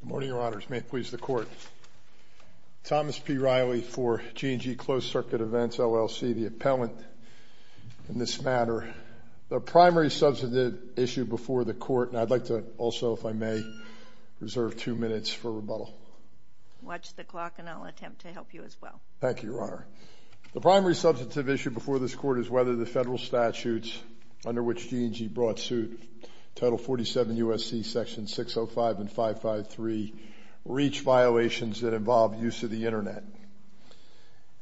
Good morning, Your Honors. May it please the Court. Thomas P. Riley for G and G Closed Circuit Events, LLC, the appellant in this matter. The primary substantive issue before the Court, and I'd like to also, if I may, reserve two minutes for rebuttal. Watch the clock, and I'll attempt to help you as well. Thank you, Your Honor. The primary substantive issue before this Court is whether the federal statutes under which G and G brought suit, Title 47 U.S.C. Section 605 and 553, reach violations that involve use of the Internet.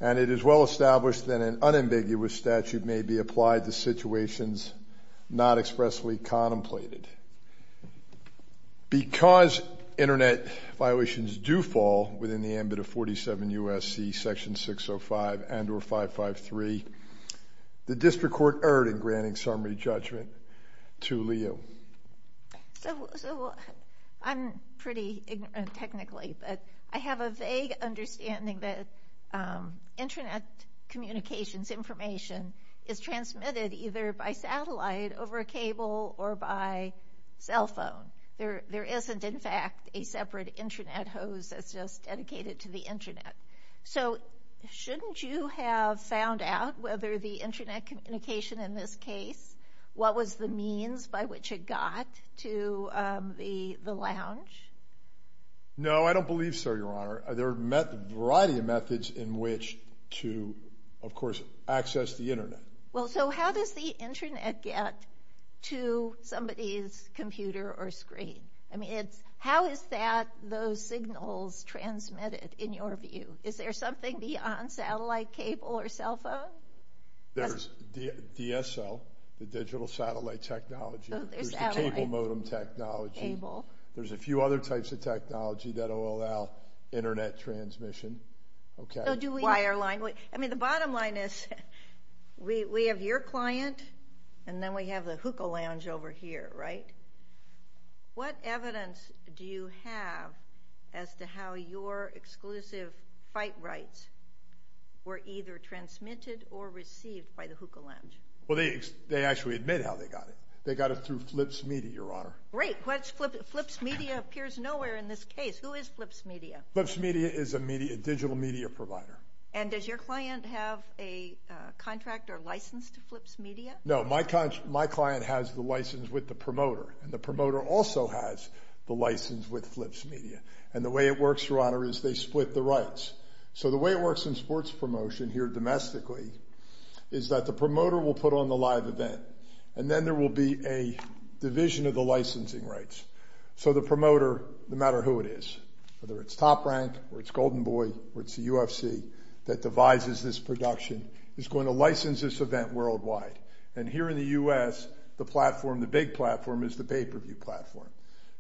And it is well established that an unambiguous statute may be applied to situations not expressly contemplated. Because Internet violations do fall within the ambit of 47 U.S.C. Section 605 and or 553, the District Court erred in granting summary judgment to Liu. So, I'm pretty ignorant technically, but I have a vague understanding that Internet communications information is transmitted either by satellite over a cable or by cell phone. There isn't, in fact, a separate Internet hose that's just dedicated to the Internet. So, shouldn't you have found out whether the Internet communication in this case, what was the means by which it got to the lounge? No, I don't believe so, Your Honor. There are a variety of methods in which to, of course, access the Internet. Well, so how does the Internet get to somebody's computer or screen? I mean, it's, how is that, those signals transmitted, in your view? Is there something beyond satellite, cable, or cell phone? There's DSL, the digital satellite technology. There's the cable modem technology. Cable. There's a few other types of technology that allow Internet transmission. Okay. So, do we- Wireline. I mean, the bottom line is, we have your client, and then we have the hookah lounge over here, right? What evidence do you have as to how your exclusive fight rights were either transmitted or received by the hookah lounge? Well, they actually admit how they got it. They got it through Flips Media, Your Honor. Great. Flips Media appears nowhere in this case. Who is Flips Media? Flips Media is a digital media provider. And does your client have a contract or license to Flips Media? No, my client has the license with the promoter, and the promoter also has the license with Flips Media. And the way it works, Your Honor, is they split the rights. So, the way it works in sports promotion here domestically is that the promoter will put on the live event, and then there will be a division of the licensing rights. So, the promoter, no matter who it is, whether it's top-ranked or it's Golden Boy or it's the UFC that devises this production, is going to license this event worldwide. And here in the U.S., the platform, the big platform, is the pay-per-view platform.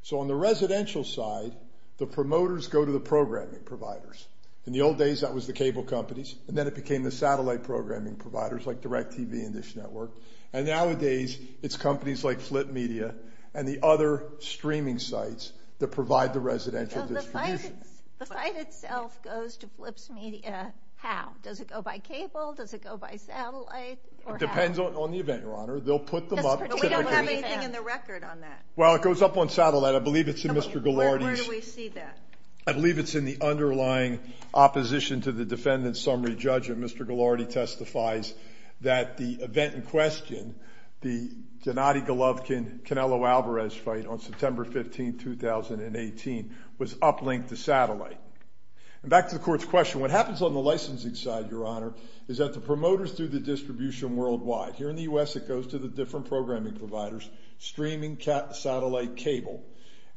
So, on the residential side, the promoters go to the programming providers. In the old days, that was the cable companies, and then it became the satellite programming providers like DirecTV and Dish Network. And nowadays, it's companies like Flip Media and the other streaming sites that provide the residential distribution. So, the fight itself goes to Flips Media how? Does it go by cable? Does it go by satellite? It depends on the event, Your Honor. They'll put them up. But we don't have anything in the record on that. Well, it goes up on satellite. I believe it's in Mr. Ghilardi's. Where do we see that? I believe it's in the underlying opposition to the defendant's summary judgment. Mr. Ghilardi testifies that the event in question, the Gennady Golovkin-Canelo-Alvarez fight on September 15, 2018, was uplinked to satellite. And back to the court's question. What happens on the licensing side, Your Honor, is that the promoters do the distribution worldwide. Here in the U.S., it goes to the different programming providers, streaming, satellite, cable.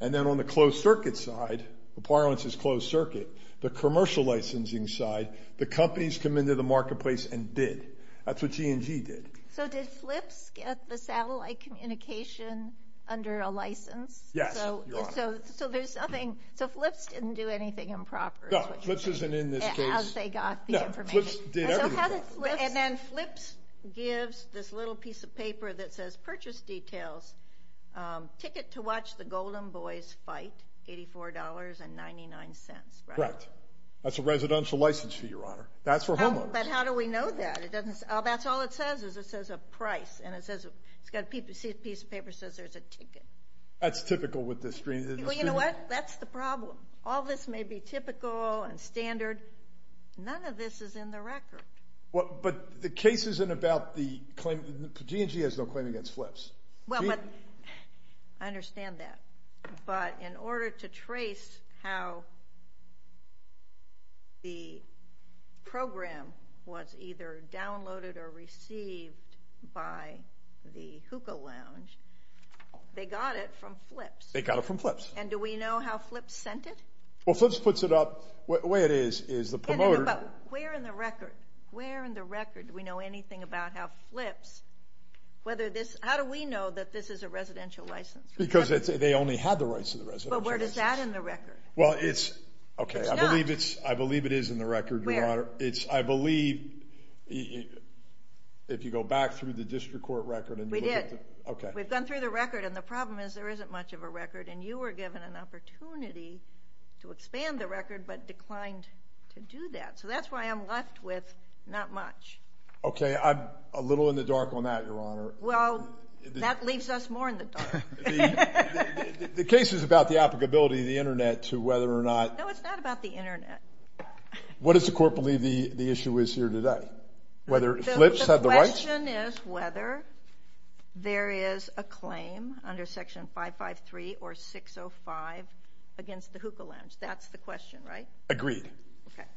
And then on the closed-circuit side, the parlance is closed-circuit. The commercial licensing side, the companies come into the marketplace and bid. That's what G&G did. So, did Flips get the satellite communication under a license? Yes, Your Honor. So, there's nothing. So, Flips didn't do anything improper. No, Flips isn't in this case. As they got the information. No, Flips did everything proper. And then Flips gives this little piece of paper that says, purchase details, ticket to watch the Golden Boys fight, $84.99. Correct. That's a residential license fee, Your Honor. That's for homeowners. But how do we know that? That's all it says, is it says a price. And it says, it's got a piece of paper that says there's a ticket. That's typical with this stream. Well, you know what? That's the problem. All this may be typical and standard. None of this is in the record. But the case isn't about the claim. G&G has no claim against Flips. Well, but, I understand that. But in order to trace how the program was either downloaded or received by the hookah lounge, they got it from Flips. They got it from Flips. And do we know how Flips sent it? Well, Flips puts it up, the way it is, is the promoter. But where in the record do we know anything about how Flips, whether this, how do we know that this is a residential license? Because they only had the rights to the residential license. But where does that in the record? Well, it's, okay. It's not. I believe it is in the record, Your Honor. Where? It's, I believe, if you go back through the district court record. We did. Okay. We've gone through the record, and the problem is there isn't much of a record. And you were given an opportunity to expand the record, but declined to do that. So that's why I'm left with not much. Okay. I'm a little in the dark on that, Your Honor. Well, that leaves us more in the dark. The case is about the applicability of the Internet to whether or not... No, it's not about the Internet. What does the court believe the issue is here today? Whether Flips had the rights? The question is whether there is a claim under Section 553 or 605 against the hookah lounge. That's the question, right? Agreed. Okay.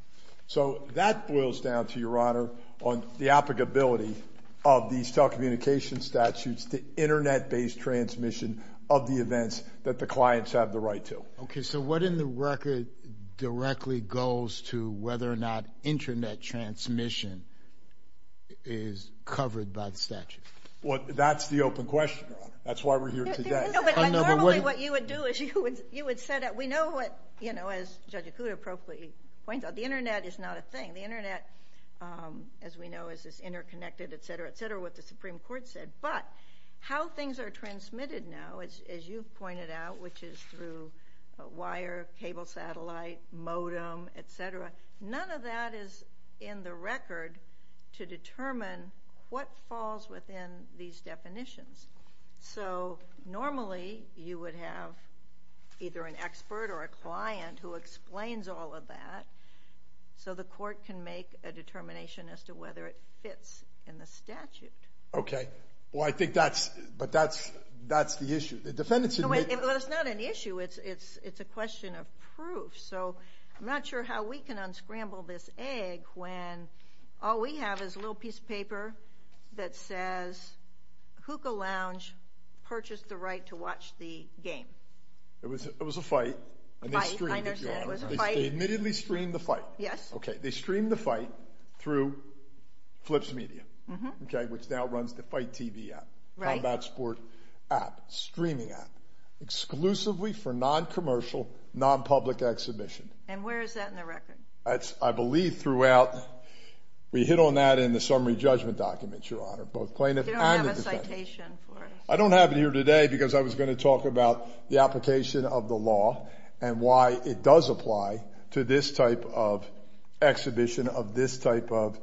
So that boils down to, Your Honor, on the applicability of these telecommunications statutes to Internet-based transmission of the events that the clients have the right to. Okay. So what in the record directly goes to whether or not Internet transmission is covered by the statute? Well, that's the open question, Your Honor. That's why we're here today. No, but normally what you would do is you would set up... We know what, you know, as Judge Acuda appropriately points out, the Internet is not a thing. The Internet, as we know, is this interconnected, et cetera, et cetera, what the Supreme Court said. But how things are transmitted now, as you've pointed out, which is through wire, cable satellite, modem, et cetera, none of that is in the record to determine what falls within these definitions. So normally you would have either an expert or a client who explains all of that so the court can make a determination as to whether it fits in the statute. Okay. Well, I think that's... but that's the issue. The defendants admit... No, wait. It's not an issue. It's a question of proof. So I'm not sure how we can unscramble this egg when all we have is a little piece of paper that says Hookah Lounge purchased the right to watch the game. It was a fight. A fight, I understand. It was a fight. They admittedly streamed the fight. Yes. Okay. They streamed the fight through Flips Media, which now runs the Fight TV app, Combat Sport app, streaming app, exclusively for non-commercial, non-public exhibition. And where is that in the record? I believe throughout... we hit on that in the summary judgment documents, Your Honor, both plaintiff and the defendant. You don't have a citation for it. I don't have it here today because I was going to talk about the application of the law and why it does apply to this type of exhibition of this type of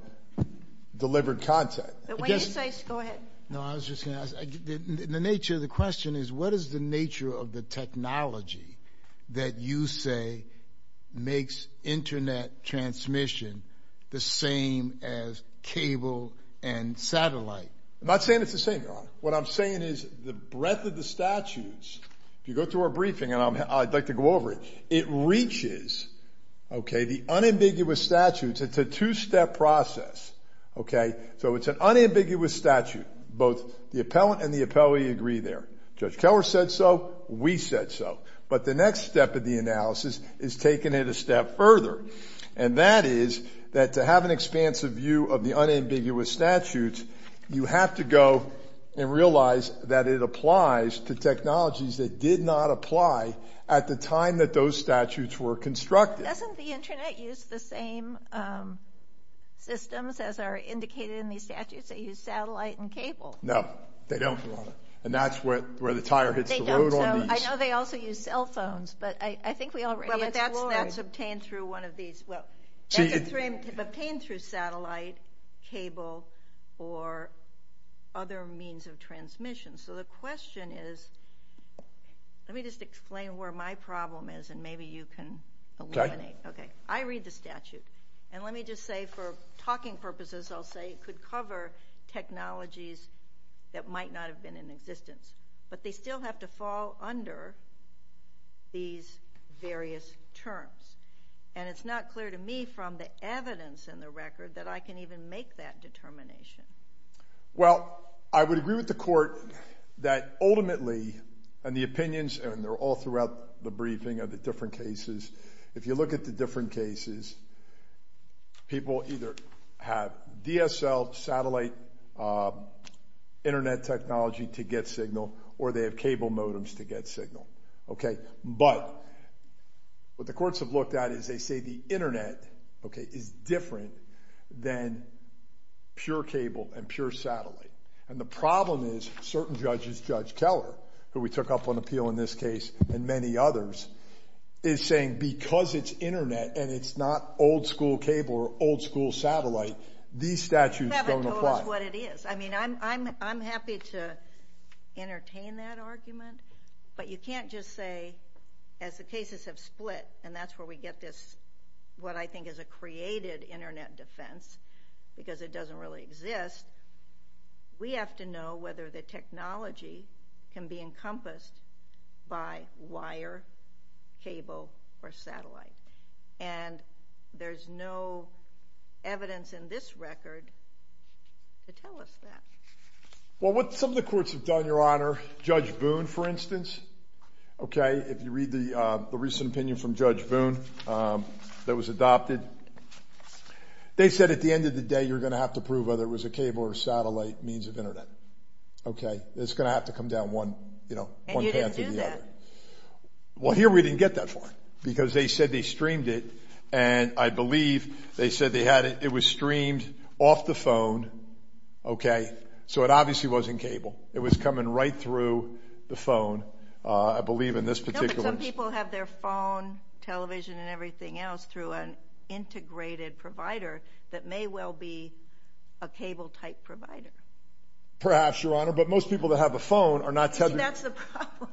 delivered content. But when you say... go ahead. No, I was just going to ask... the nature of the question is what is the nature of the technology that you say makes Internet transmission the same as cable and satellite? I'm not saying it's the same, Your Honor. What I'm saying is the breadth of the statutes, if you go through our briefing, and I'd like to go over it, it reaches the unambiguous statutes. It's a two-step process. So it's an unambiguous statute. Both the appellant and the appellee agree there. Judge Keller said so. We said so. But the next step of the analysis is taking it a step further, and that is that to have an expansive view of the unambiguous statutes, you have to go and realize that it applies to technologies that did not apply at the time that those statutes were constructed. Doesn't the Internet use the same systems as are indicated in these statutes? They use satellite and cable. No, they don't, Your Honor. And that's where the tire hits the road on these. That's obtained through satellite, cable, or other means of transmission. So the question is, let me just explain where my problem is, and maybe you can eliminate it. I read the statute. And let me just say for talking purposes, I'll say it could cover technologies that might not have been in existence. But they still have to fall under these various terms. And it's not clear to me from the evidence in the record that I can even make that determination. Well, I would agree with the Court that ultimately, and the opinions, and they're all throughout the briefing of the different cases, if you look at the different cases, people either have DSL satellite Internet technology to get signal or they have cable modems to get signal. But what the courts have looked at is they say the Internet is different than pure cable and pure satellite. And the problem is certain judges, Judge Keller, who we took up on appeal in this case, and many others, is saying because it's Internet and it's not old-school cable or old-school satellite, these statutes don't apply. You haven't told us what it is. I mean, I'm happy to entertain that argument, but you can't just say as the cases have split, and that's where we get this what I think is a created Internet defense because it doesn't really exist, we have to know whether the technology can be encompassed by wire, cable, or satellite. And there's no evidence in this record to tell us that. Well, what some of the courts have done, Your Honor, Judge Boone, for instance, okay, if you read the recent opinion from Judge Boone that was adopted, they said at the end of the day, you're going to have to prove whether it was a cable or satellite means of Internet, okay? It's going to have to come down one, you know, one path or the other. And you didn't do that. Well, here we didn't get that far because they said they streamed it, and I believe they said they had it. It was streamed off the phone, okay, so it obviously wasn't cable. It was coming right through the phone, I believe in this particular case. No, but some people have their phone, television, and everything else through an integrated provider that may well be a cable-type provider. Perhaps, Your Honor, but most people that have a phone are not telling you. See, that's the problem.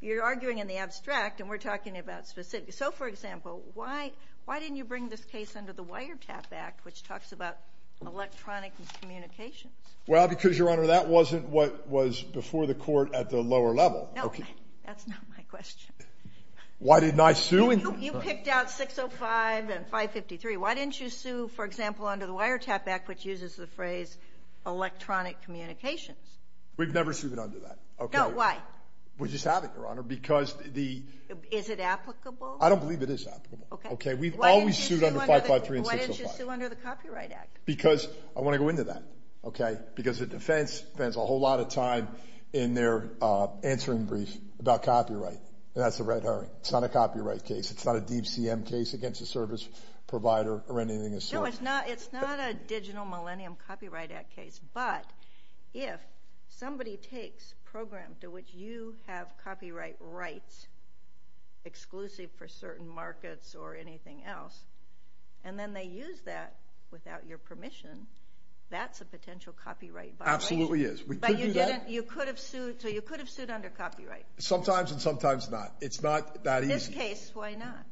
You're arguing in the abstract, and we're talking about specifics. So, for example, why didn't you bring this case under the Wiretap Act, which talks about electronic communications? Well, because, Your Honor, that wasn't what was before the court at the lower level. No, that's not my question. Why didn't I sue? You picked out 605 and 553. Why didn't you sue, for example, under the Wiretap Act, which uses the phrase electronic communications? We've never sued under that. No, why? We just haven't, Your Honor, because the— Is it applicable? I don't believe it is applicable. Okay. We've always sued under 553 and 605. Why didn't you sue under the Copyright Act? Because I want to go into that, okay, because the defense spends a whole lot of time in their answering brief about copyright, and that's the red herring. It's not a copyright case. It's not a DCM case against a service provider or anything of the sort. No, it's not a Digital Millennium Copyright Act case, but if somebody takes a program to which you have copyright rights exclusive for certain markets or anything else, and then they use that without your permission, that's a potential copyright violation. Absolutely is. But you didn't—you could have sued—so you could have sued under copyright. Sometimes and sometimes not. It's not that easy. In this case, why not?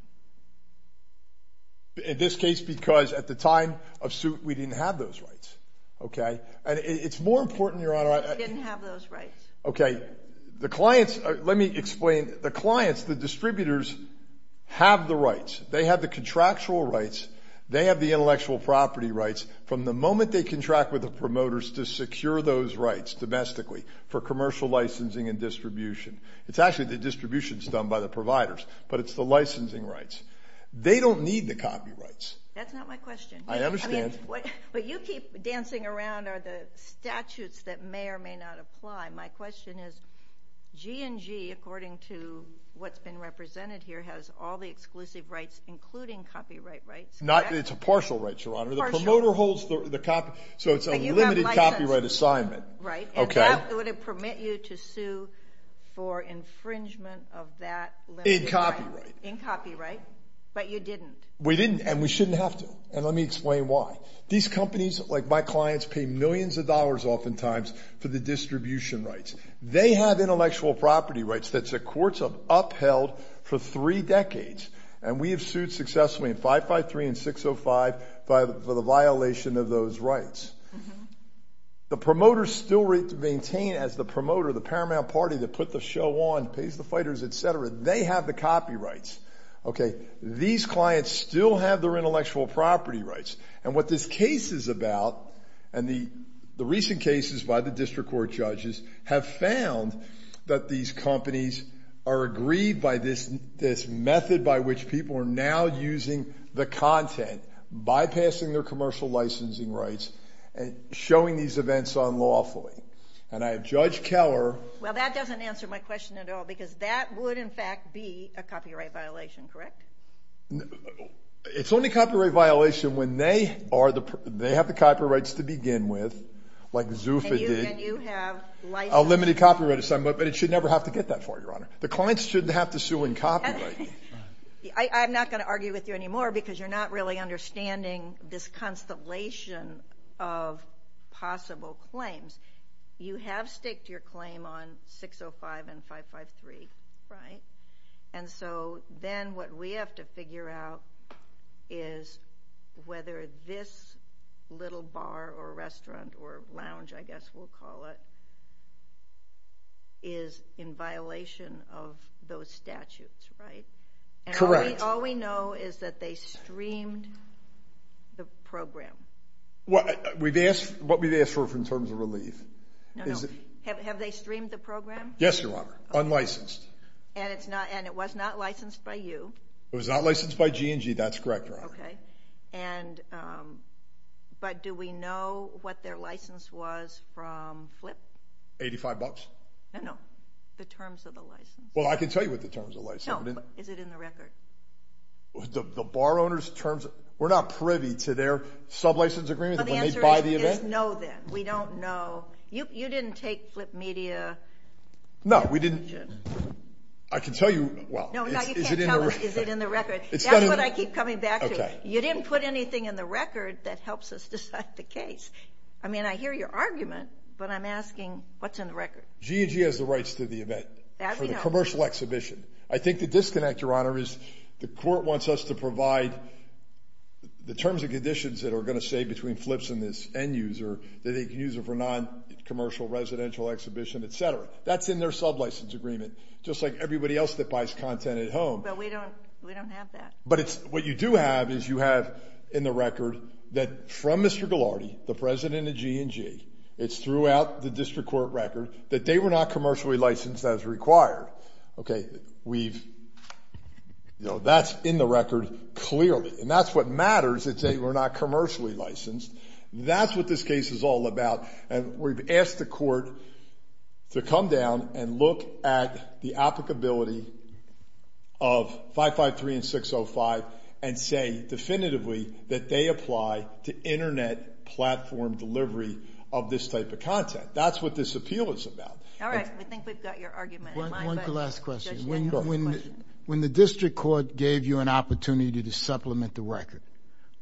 In this case, because at the time of suit, we didn't have those rights, okay? And it's more important, Your Honor— You didn't have those rights. Okay. The clients—let me explain. The clients, the distributors, have the rights. They have the contractual rights. They have the intellectual property rights. From the moment they contract with the promoters to secure those rights domestically for commercial licensing and distribution, it's actually the distributions done by the providers, but it's the licensing rights. They don't need the copyrights. That's not my question. I understand. What you keep dancing around are the statutes that may or may not apply. My question is, G&G, according to what's been represented here, has all the exclusive rights, including copyright rights, correct? It's a partial right, Your Honor. Partial. The promoter holds the copy—so it's a limited copyright assignment. Right. Okay. Would it permit you to sue for infringement of that limited— In copyright. In copyright, but you didn't. We didn't, and we shouldn't have to, and let me explain why. These companies, like my clients, pay millions of dollars oftentimes for the distribution rights. They have intellectual property rights that the courts have upheld for three decades, and we have sued successfully in 553 and 605 for the violation of those rights. The promoters still maintain, as the promoter, the paramount party that put the show on, pays the fighters, et cetera, they have the copyrights. Okay. These clients still have their intellectual property rights, and what this case is about, and the recent cases by the district court judges have found that these companies are aggrieved by this method by which people are now using the content, bypassing their commercial licensing rights, and showing these events unlawfully, and I have Judge Keller— Well, that doesn't answer my question at all, because that would, in fact, be a copyright violation, correct? It's only copyright violation when they are the—they have the copyrights to begin with, like Zufa did. And you have license— A limited copyright assignment, but it should never have to get that far, Your Honor. The clients shouldn't have to sue in copyright. I'm not going to argue with you anymore because you're not really understanding this constellation of possible claims. You have staked your claim on 605 and 553, right? And so then what we have to figure out is whether this little bar or restaurant or lounge, I guess we'll call it, is in violation of those statutes, right? Correct. And all we know is that they streamed the program. What we've asked for in terms of relief is— No, no. Have they streamed the program? Yes, Your Honor, unlicensed. And it's not—and it was not licensed by you. Okay. And—but do we know what their license was from FLIP? Eighty-five bucks? No, no. The terms of the license. Well, I can tell you what the terms of the license— No, but is it in the record? The bar owner's terms—we're not privy to their sublicense agreement when they buy the event? Well, the answer is no, then. We don't know. You didn't take FLIP Media— No, we didn't—I can tell you— No, no, you can't tell us. Is it in the record? That's what I keep coming back to. Okay. You didn't put anything in the record that helps us decide the case. I mean, I hear your argument, but I'm asking what's in the record. G&G has the rights to the event for the commercial exhibition. I think the disconnect, Your Honor, is the court wants us to provide the terms and conditions that are going to say between FLIPs and this end user, that they can use it for non-commercial residential exhibition, et cetera. That's in their sublicense agreement, just like everybody else that buys content at home. But we don't have that. But what you do have is you have in the record that from Mr. Ghilardi, the president of G&G, it's throughout the district court record, that they were not commercially licensed as required. Okay, we've—you know, that's in the record clearly. And that's what matters, that they were not commercially licensed. That's what this case is all about. And we've asked the court to come down and look at the applicability of 553 and 605 and say definitively that they apply to Internet platform delivery of this type of content. That's what this appeal is about. All right, I think we've got your argument in mind. One last question. When the district court gave you an opportunity to supplement the record,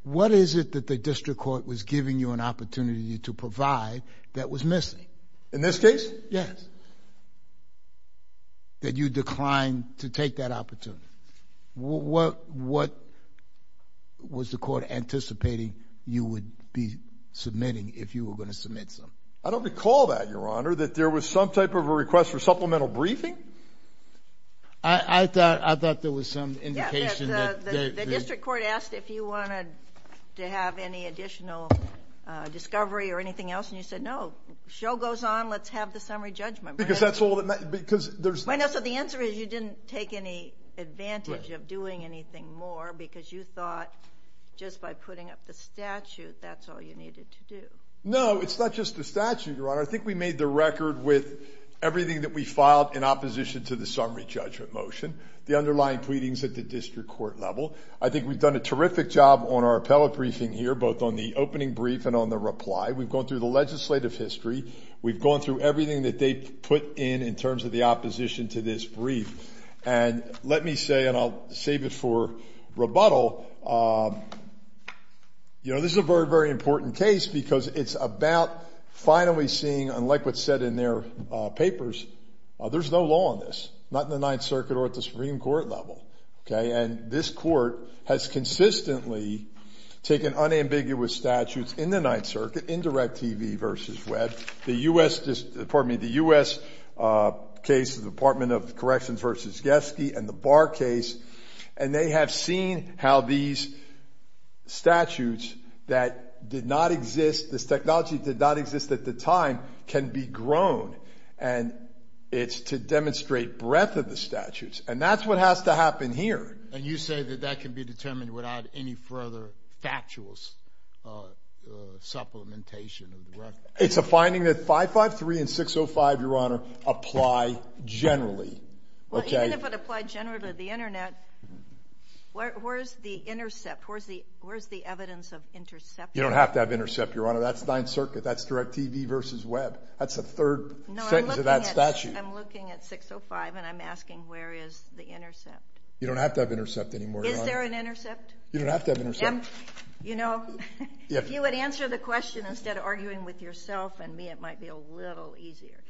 what is it that the district court was giving you an opportunity to provide that was missing? In this case? Yes. That you declined to take that opportunity. What was the court anticipating you would be submitting if you were going to submit some? I don't recall that, Your Honor, that there was some type of a request for supplemental briefing. I thought there was some indication that— Did you want to have any additional discovery or anything else? And you said, no, show goes on, let's have the summary judgment. Because that's all that matters. So the answer is you didn't take any advantage of doing anything more because you thought just by putting up the statute that's all you needed to do. No, it's not just the statute, Your Honor. I think we made the record with everything that we filed in opposition to the summary judgment motion, the underlying pleadings at the district court level. I think we've done a terrific job on our appellate briefing here, both on the opening brief and on the reply. We've gone through the legislative history. We've gone through everything that they put in in terms of the opposition to this brief. And let me say, and I'll save it for rebuttal, this is a very, very important case because it's about finally seeing, unlike what's said in their papers, there's no law on this, not in the Ninth Circuit or at the Supreme Court level. Okay? And this court has consistently taken unambiguous statutes in the Ninth Circuit, in Direct TV v. Webb, the U.S. case, the Department of Corrections v. Getsky, and the Barr case, and they have seen how these statutes that did not exist, this technology did not exist at the time, can be grown. And that's what has to happen here. And you say that that can be determined without any further factual supplementation of the record? It's a finding that 553 and 605, Your Honor, apply generally. Well, even if it applied generally to the Internet, where's the intercept? Where's the evidence of intercept? You don't have to have intercept, Your Honor. That's Ninth Circuit. That's Direct TV v. Webb. That's the third sentence of that statute. I'm looking at 605, and I'm asking where is the intercept? You don't have to have intercept anymore. Is there an intercept? You don't have to have intercept. You know, if you would answer the question instead of arguing with yourself and me, it might be a little easier.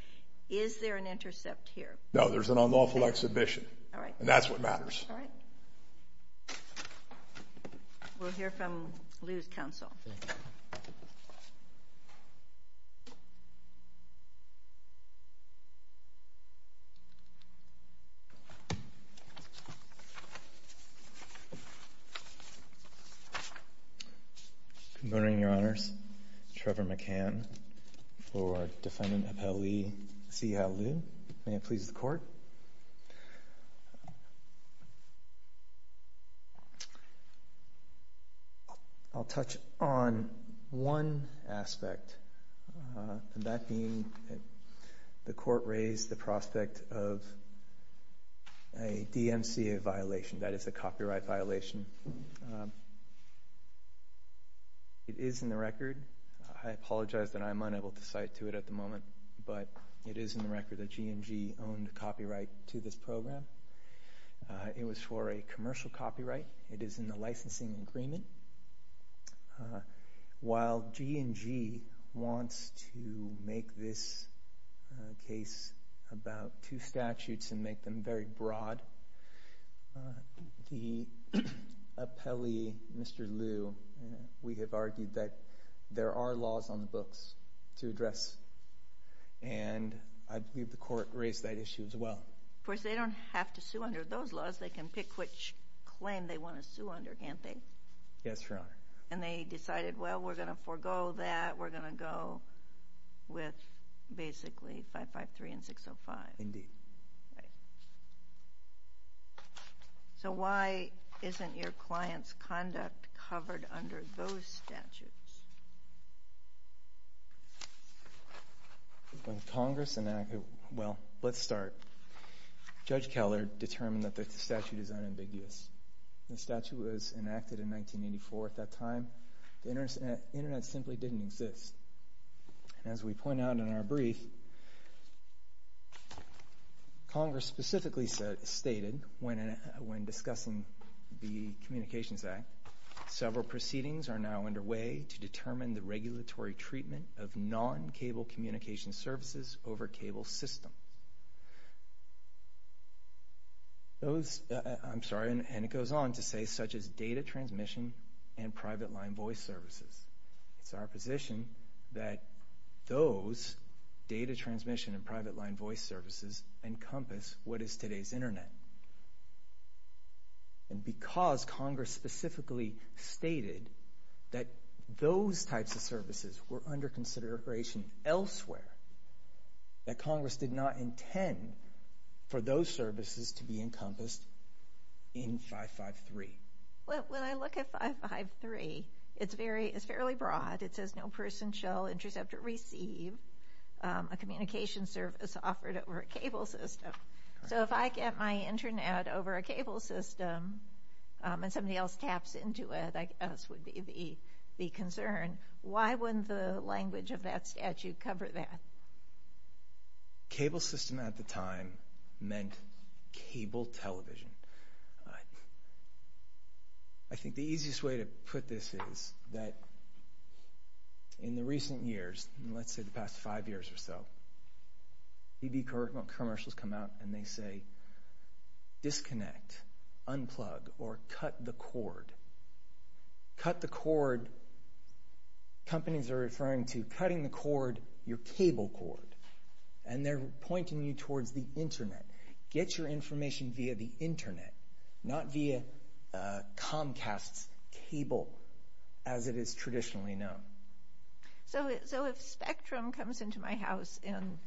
Is there an intercept here? No, there's an unlawful exhibition, and that's what matters. All right. We'll hear from Lew's counsel. Thank you. Good morning, Your Honors. Trevor McCann for Defendant Appellee C.L. Lew. I'll touch on one aspect, and that being the court raised the prospect of a DMCA violation, that is a copyright violation. It is in the record. I apologize that I'm unable to cite to it at the moment, but it is in the record that G&G owned copyright to this program. It was for a commercial copyright. It is in the licensing agreement. While G&G wants to make this case about two statutes and make them very broad, the appellee, Mr. Lew, we have argued that there are laws on the books to address, and I believe the court raised that issue as well. Of course, they don't have to sue under those laws. They can pick which claim they want to sue under, can't they? Yes, Your Honor. And they decided, well, we're going to forego that. We're going to go with basically 553 and 605. Indeed. Indeed. Right. So why isn't your client's conduct covered under those statutes? Well, let's start. Judge Keller determined that the statute is unambiguous. The statute was enacted in 1984. At that time, the Internet simply didn't exist. As we point out in our brief, Congress specifically stated, when discussing the Communications Act, several proceedings are now underway to determine the regulatory treatment of non-cable communication services over cable system. Those, I'm sorry, and it goes on to say, such as data transmission and private line voice services. It's our position that those data transmission and private line voice services encompass what is today's Internet. And because Congress specifically stated that those types of services were under consideration elsewhere, that Congress did not intend for those services to be encompassed in 553. Well, when I look at 553, it's fairly broad. It says no person shall intercept or receive a communication service offered over a cable system. So if I get my Internet over a cable system and somebody else taps into it, I guess would be the concern. Why wouldn't the language of that statute cover that? Cable system at the time meant cable television. I think the easiest way to put this is that in the recent years, let's say the past five years or so, TV commercials come out and they say, disconnect, unplug, or cut the cord. And they're pointing you towards the Internet. Get your information via the Internet, not via Comcast's cable as it is traditionally known. So if Spectrum comes into my house and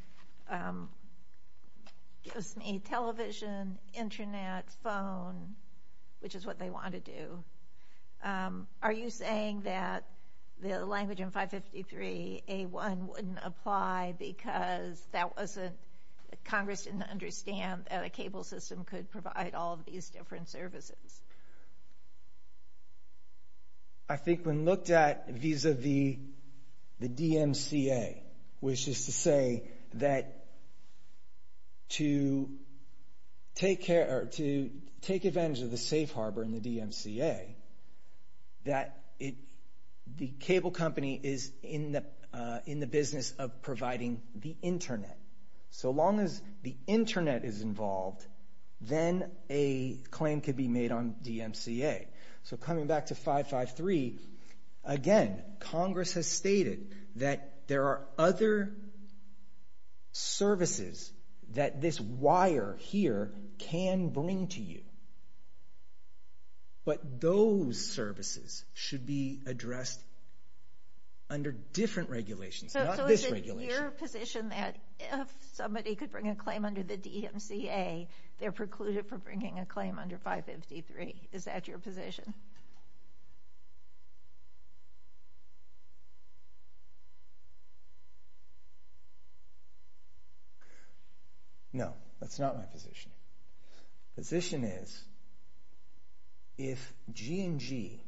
gives me television, Internet, phone, which is what they want to do, are you saying that the language in 553A1 wouldn't apply because Congress didn't understand that a cable system could provide all of these different services? I think when looked at vis-à-vis the DMCA, which is to say that to take advantage of the safe harbor in the DMCA, that the cable company is in the business of providing the Internet. So long as the Internet is involved, then a claim could be made on DMCA. So coming back to 553, again, Congress has stated that there are other services that this wire here can bring to you. But those services should be addressed under different regulations, not this regulation. So is it your position that if somebody could bring a claim under the DMCA, they're precluded from bringing a claim under 553? Is that your position? No, that's not my position. The position is if G&G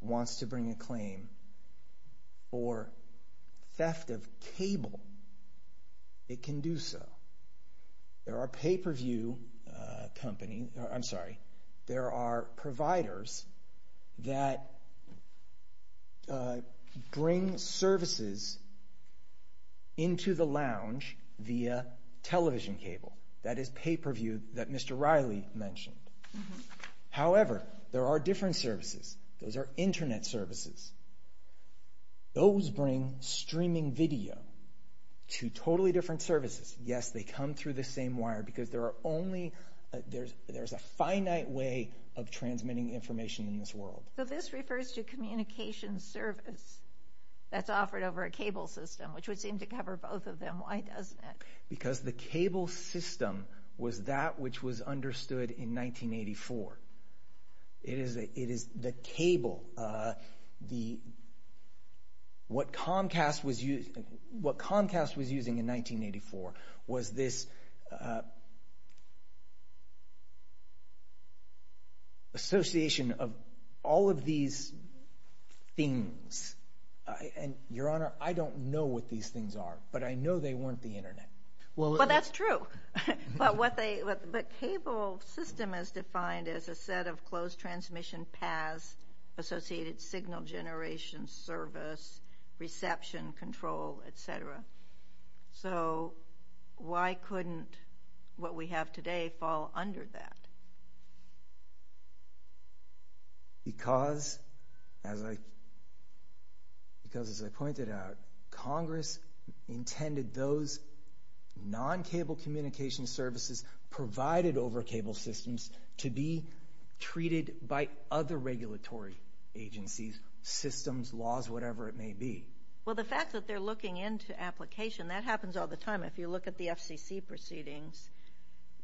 wants to bring a claim for theft of cable, it can do so. There are providers that bring services into the lounge via television cable. That is pay-per-view that Mr. Riley mentioned. However, there are different services. Those are Internet services. Those bring streaming video to totally different services. Yes, they come through the same wire because there's a finite way of transmitting information in this world. So this refers to communication service that's offered over a cable system, which would seem to cover both of them. Why doesn't it? Because the cable system was that which was understood in 1984. It is the cable. What Comcast was using in 1984 was this association of all of these things. Your Honor, I don't know what these things are, but I know they weren't the Internet. Well, that's true. But cable system is defined as a set of closed transmission paths associated signal generation, service, reception, control, et cetera. So why couldn't what we have today fall under that? Because, as I pointed out, Congress intended those non-cable communication services provided over cable systems to be treated by other regulatory agencies, systems, laws, whatever it may be. Well, the fact that they're looking into application, that happens all the time. If you look at the FCC proceedings,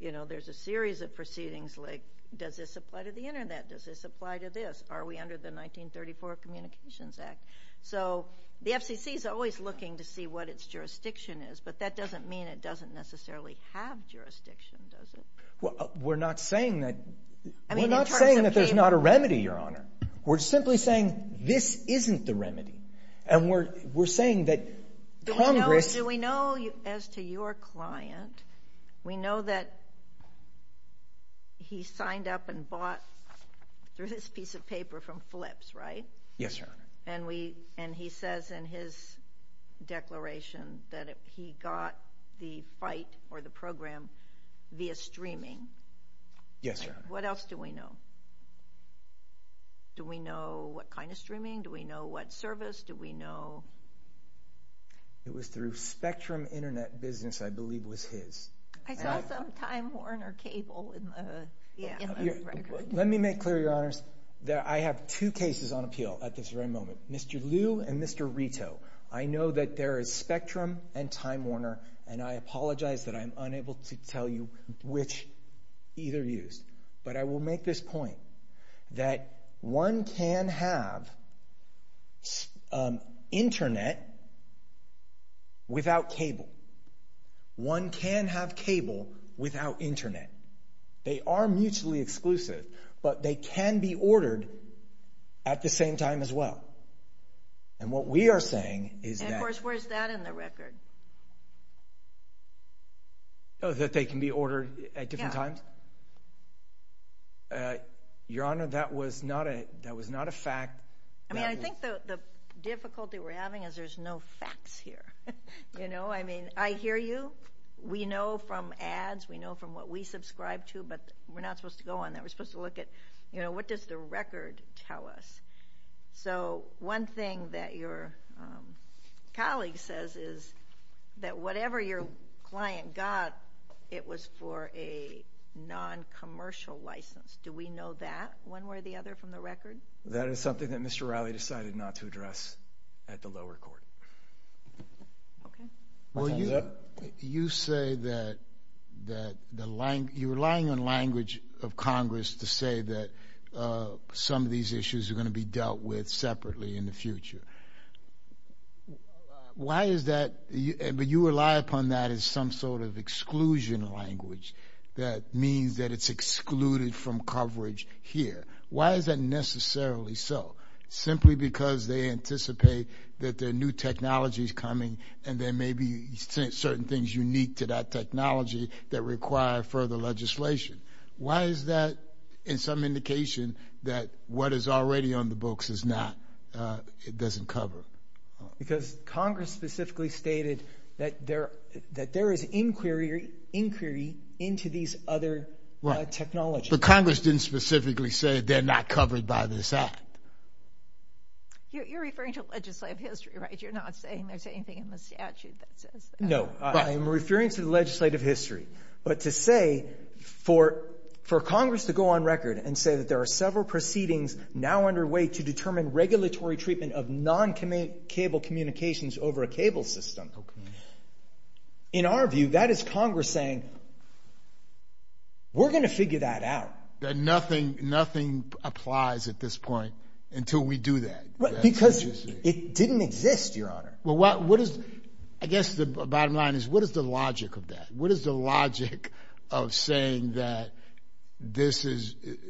there's a series of proceedings like does this apply to the Internet? Does this apply to this? Are we under the 1934 Communications Act? So the FCC is always looking to see what its jurisdiction is, but that doesn't mean it doesn't necessarily have jurisdiction, does it? Well, we're not saying that there's not a remedy, Your Honor. We're simply saying this isn't the remedy, and we're saying that Congress— Do we know, as to your client, we know that he signed up and bought through this piece of paper from FLPS, right? Yes, Your Honor. And he says in his declaration that he got the fight or the program via streaming. Yes, Your Honor. What else do we know? Do we know what kind of streaming? Do we know what service? Do we know— It was through Spectrum Internet Business, I believe, was his. I saw some Time Warner cable in the record. Let me make clear, Your Honors, that I have two cases on appeal at this very moment, Mr. Liu and Mr. Rito. I know that there is Spectrum and Time Warner, and I apologize that I'm unable to tell you which either used. But I will make this point, that one can have Internet without cable. One can have cable without Internet. They are mutually exclusive, but they can be ordered at the same time as well. And what we are saying is that— And, of course, where's that in the record? Oh, that they can be ordered at different times? Yes. Your Honor, that was not a fact. I mean, I think the difficulty we're having is there's no facts here. You know, I mean, I hear you. We know from ads. We know from what we subscribe to, but we're not supposed to go on that. We're supposed to look at, you know, what does the record tell us? So one thing that your colleague says is that whatever your client got, it was for a noncommercial license. Do we know that one way or the other from the record? That is something that Mr. Riley decided not to address at the lower court. Okay. Well, you say that you're relying on language of Congress to say that some of these issues are going to be dealt with separately in the future. Why is that? But you rely upon that as some sort of exclusion language that means that it's excluded from coverage here. Why is that necessarily so? Simply because they anticipate that there are new technologies coming and there may be certain things unique to that technology that require further legislation. Why is that in some indication that what is already on the books doesn't cover? Because Congress specifically stated that there is inquiry into these other technologies. But Congress didn't specifically say they're not covered by this act. You're referring to legislative history, right? You're not saying there's anything in the statute that says that. No, but I am referring to the legislative history. But to say for Congress to go on record and say that there are several proceedings now underway to determine regulatory treatment of non-cable communications over a cable system, in our view, that is Congress saying we're going to figure that out. Nothing applies at this point until we do that. Because it didn't exist, Your Honor. I guess the bottom line is what is the logic of that? What is the logic of saying that the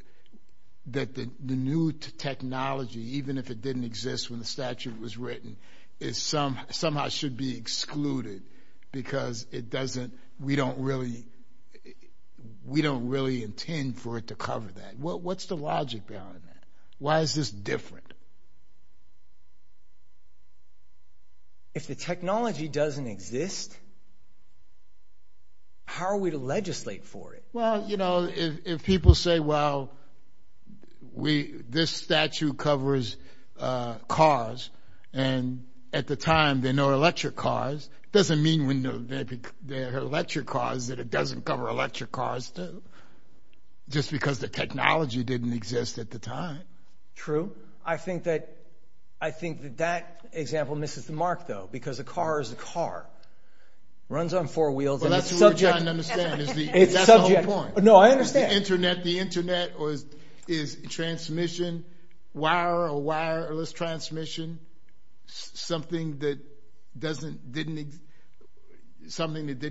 new technology, even if it didn't exist when the statute was written, somehow should be excluded because we don't really intend for it to cover that? What's the logic behind that? Why is this different? If the technology doesn't exist, how are we to legislate for it? Well, you know, if people say, well, this statute covers cars, and at the time there were no electric cars, it doesn't mean when there were electric cars that it doesn't cover electric cars, just because the technology didn't exist at the time. True. I think that that example misses the mark, though, because a car is a car. It runs on four wheels. Well, that's what we're trying to understand. That's the whole point. No, I understand. Is the Internet transmission, wire or wireless transmission, something that didn't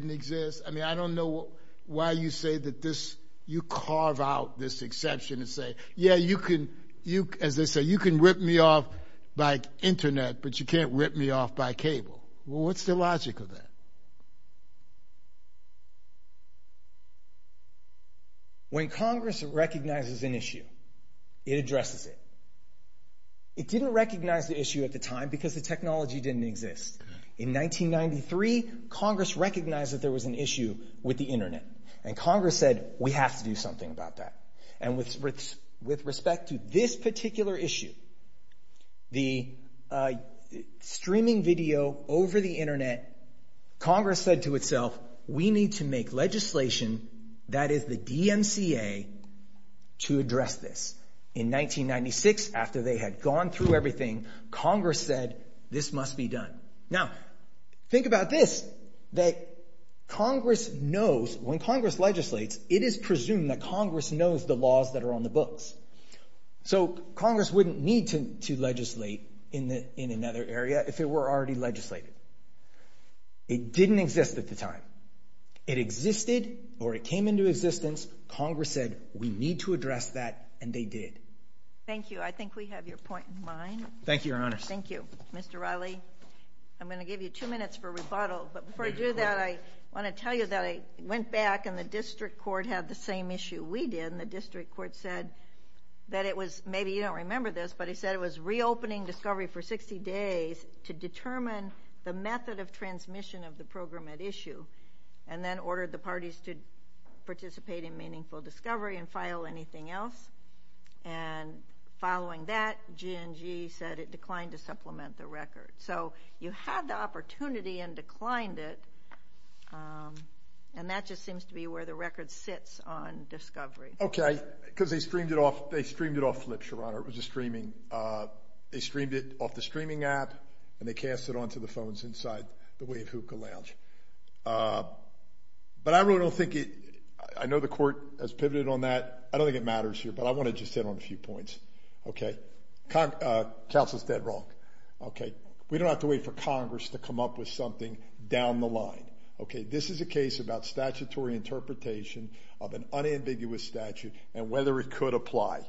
exist? I mean, I don't know why you say that this, you carve out this exception and say, yeah, you can, as they say, you can rip me off by Internet, but you can't rip me off by cable. What's the logic of that? When Congress recognizes an issue, it addresses it. It didn't recognize the issue at the time because the technology didn't exist. In 1993, Congress recognized that there was an issue with the Internet, and Congress said, we have to do something about that. And with respect to this particular issue, the streaming video over the Internet, Congress said to itself, we need to make legislation that is the DMCA to address this. In 1996, after they had gone through everything, Congress said, this must be done. Now, think about this, that Congress knows, when Congress legislates, it is presumed that Congress knows the laws that are on the books. So Congress wouldn't need to legislate in another area if it were already legislated. It didn't exist at the time. It existed or it came into existence. Congress said, we need to address that, and they did. Thank you. I think we have your point in mind. Thank you, Your Honors. Mr. Riley, I'm going to give you two minutes for rebuttal, but before I do that, I want to tell you that I went back and the district court had the same issue we did, and the district court said that it was, maybe you don't remember this, but it said it was reopening Discovery for 60 days to determine the method of transmission of the program at issue, and then ordered the parties to participate in Meaningful Discovery and file anything else. And following that, G&G said it declined to supplement the record. So you had the opportunity and declined it, and that just seems to be where the record sits on Discovery. Okay. Because they streamed it off Flip, Your Honor. It was a streaming. They streamed it off the streaming app, and they cast it onto the phones inside the Wave Hookah Lounge. But I really don't think it – I know the court has pivoted on that. I don't think it matters here, but I want to just hit on a few points. Okay. Counsel is dead wrong. Okay. We don't have to wait for Congress to come up with something down the line. Okay. This is a case about statutory interpretation of an unambiguous statute and whether it could apply.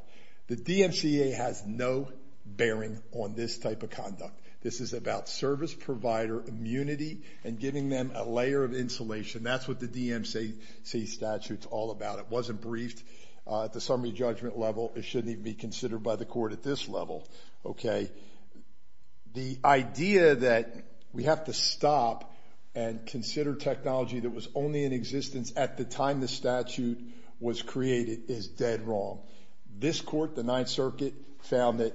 The DMCA has no bearing on this type of conduct. This is about service provider immunity and giving them a layer of insulation. That's what the DMCA statute's all about. It wasn't briefed at the summary judgment level. It shouldn't even be considered by the court at this level. Okay. The idea that we have to stop and consider technology that was only in existence at the time the statute was created is dead wrong. This court, the Ninth Circuit, found that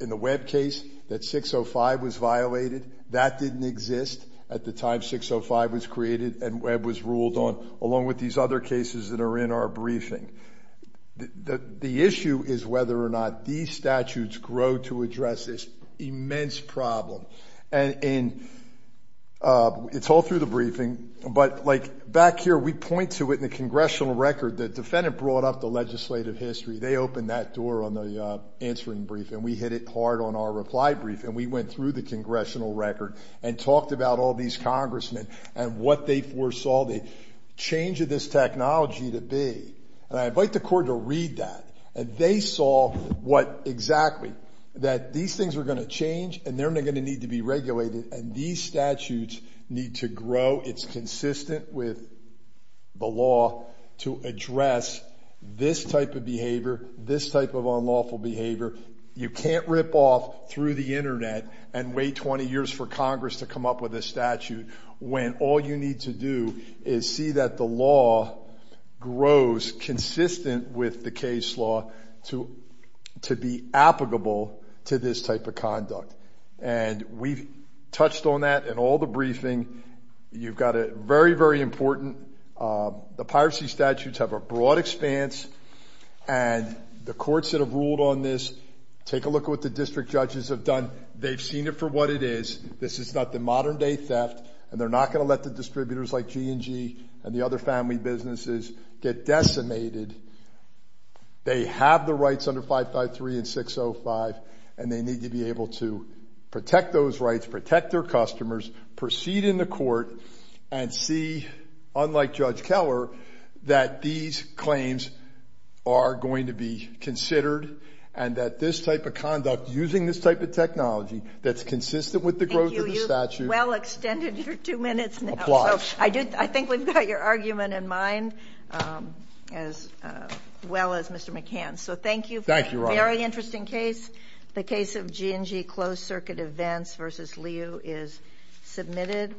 in the Webb case that 605 was violated. That didn't exist at the time 605 was created and Webb was ruled on, along with these other cases that are in our briefing. The issue is whether or not these statutes grow to address this immense problem. It's all through the briefing, but back here we point to it in the congressional record. The defendant brought up the legislative history. They opened that door on the answering brief and we hit it hard on our reply brief and we went through the congressional record and talked about all these congressmen and what they foresaw the change of this technology to be. I invite the court to read that. They saw what exactly, that these things were going to change and they're going to need to be regulated and these statutes need to grow. It's consistent with the law to address this type of behavior, this type of unlawful behavior. You can't rip off through the internet and wait 20 years for Congress to come up with a statute when all you need to do is see that the law grows consistent with the case law to be applicable to this type of conduct. And we've touched on that in all the briefing. You've got a very, very important, the piracy statutes have a broad expanse and the courts that have ruled on this, take a look at what the district judges have done. They've seen it for what it is. This is not the modern-day theft and they're not going to let the distributors like G&G and the other family businesses get decimated. They have the rights under 553 and 605 and they need to be able to protect those rights, protect their customers, proceed in the court and see, unlike Judge Keller, that these claims are going to be considered and that this type of conduct, using this type of technology, that's consistent with the growth of the statute. Thank you. You've well extended your two minutes now. Applies. I think we've got your argument in mind, as well as Mr. McCann's. So thank you. Thank you, Your Honor. Very interesting case. The case of G&G closed-circuit events v. Liu is submitted.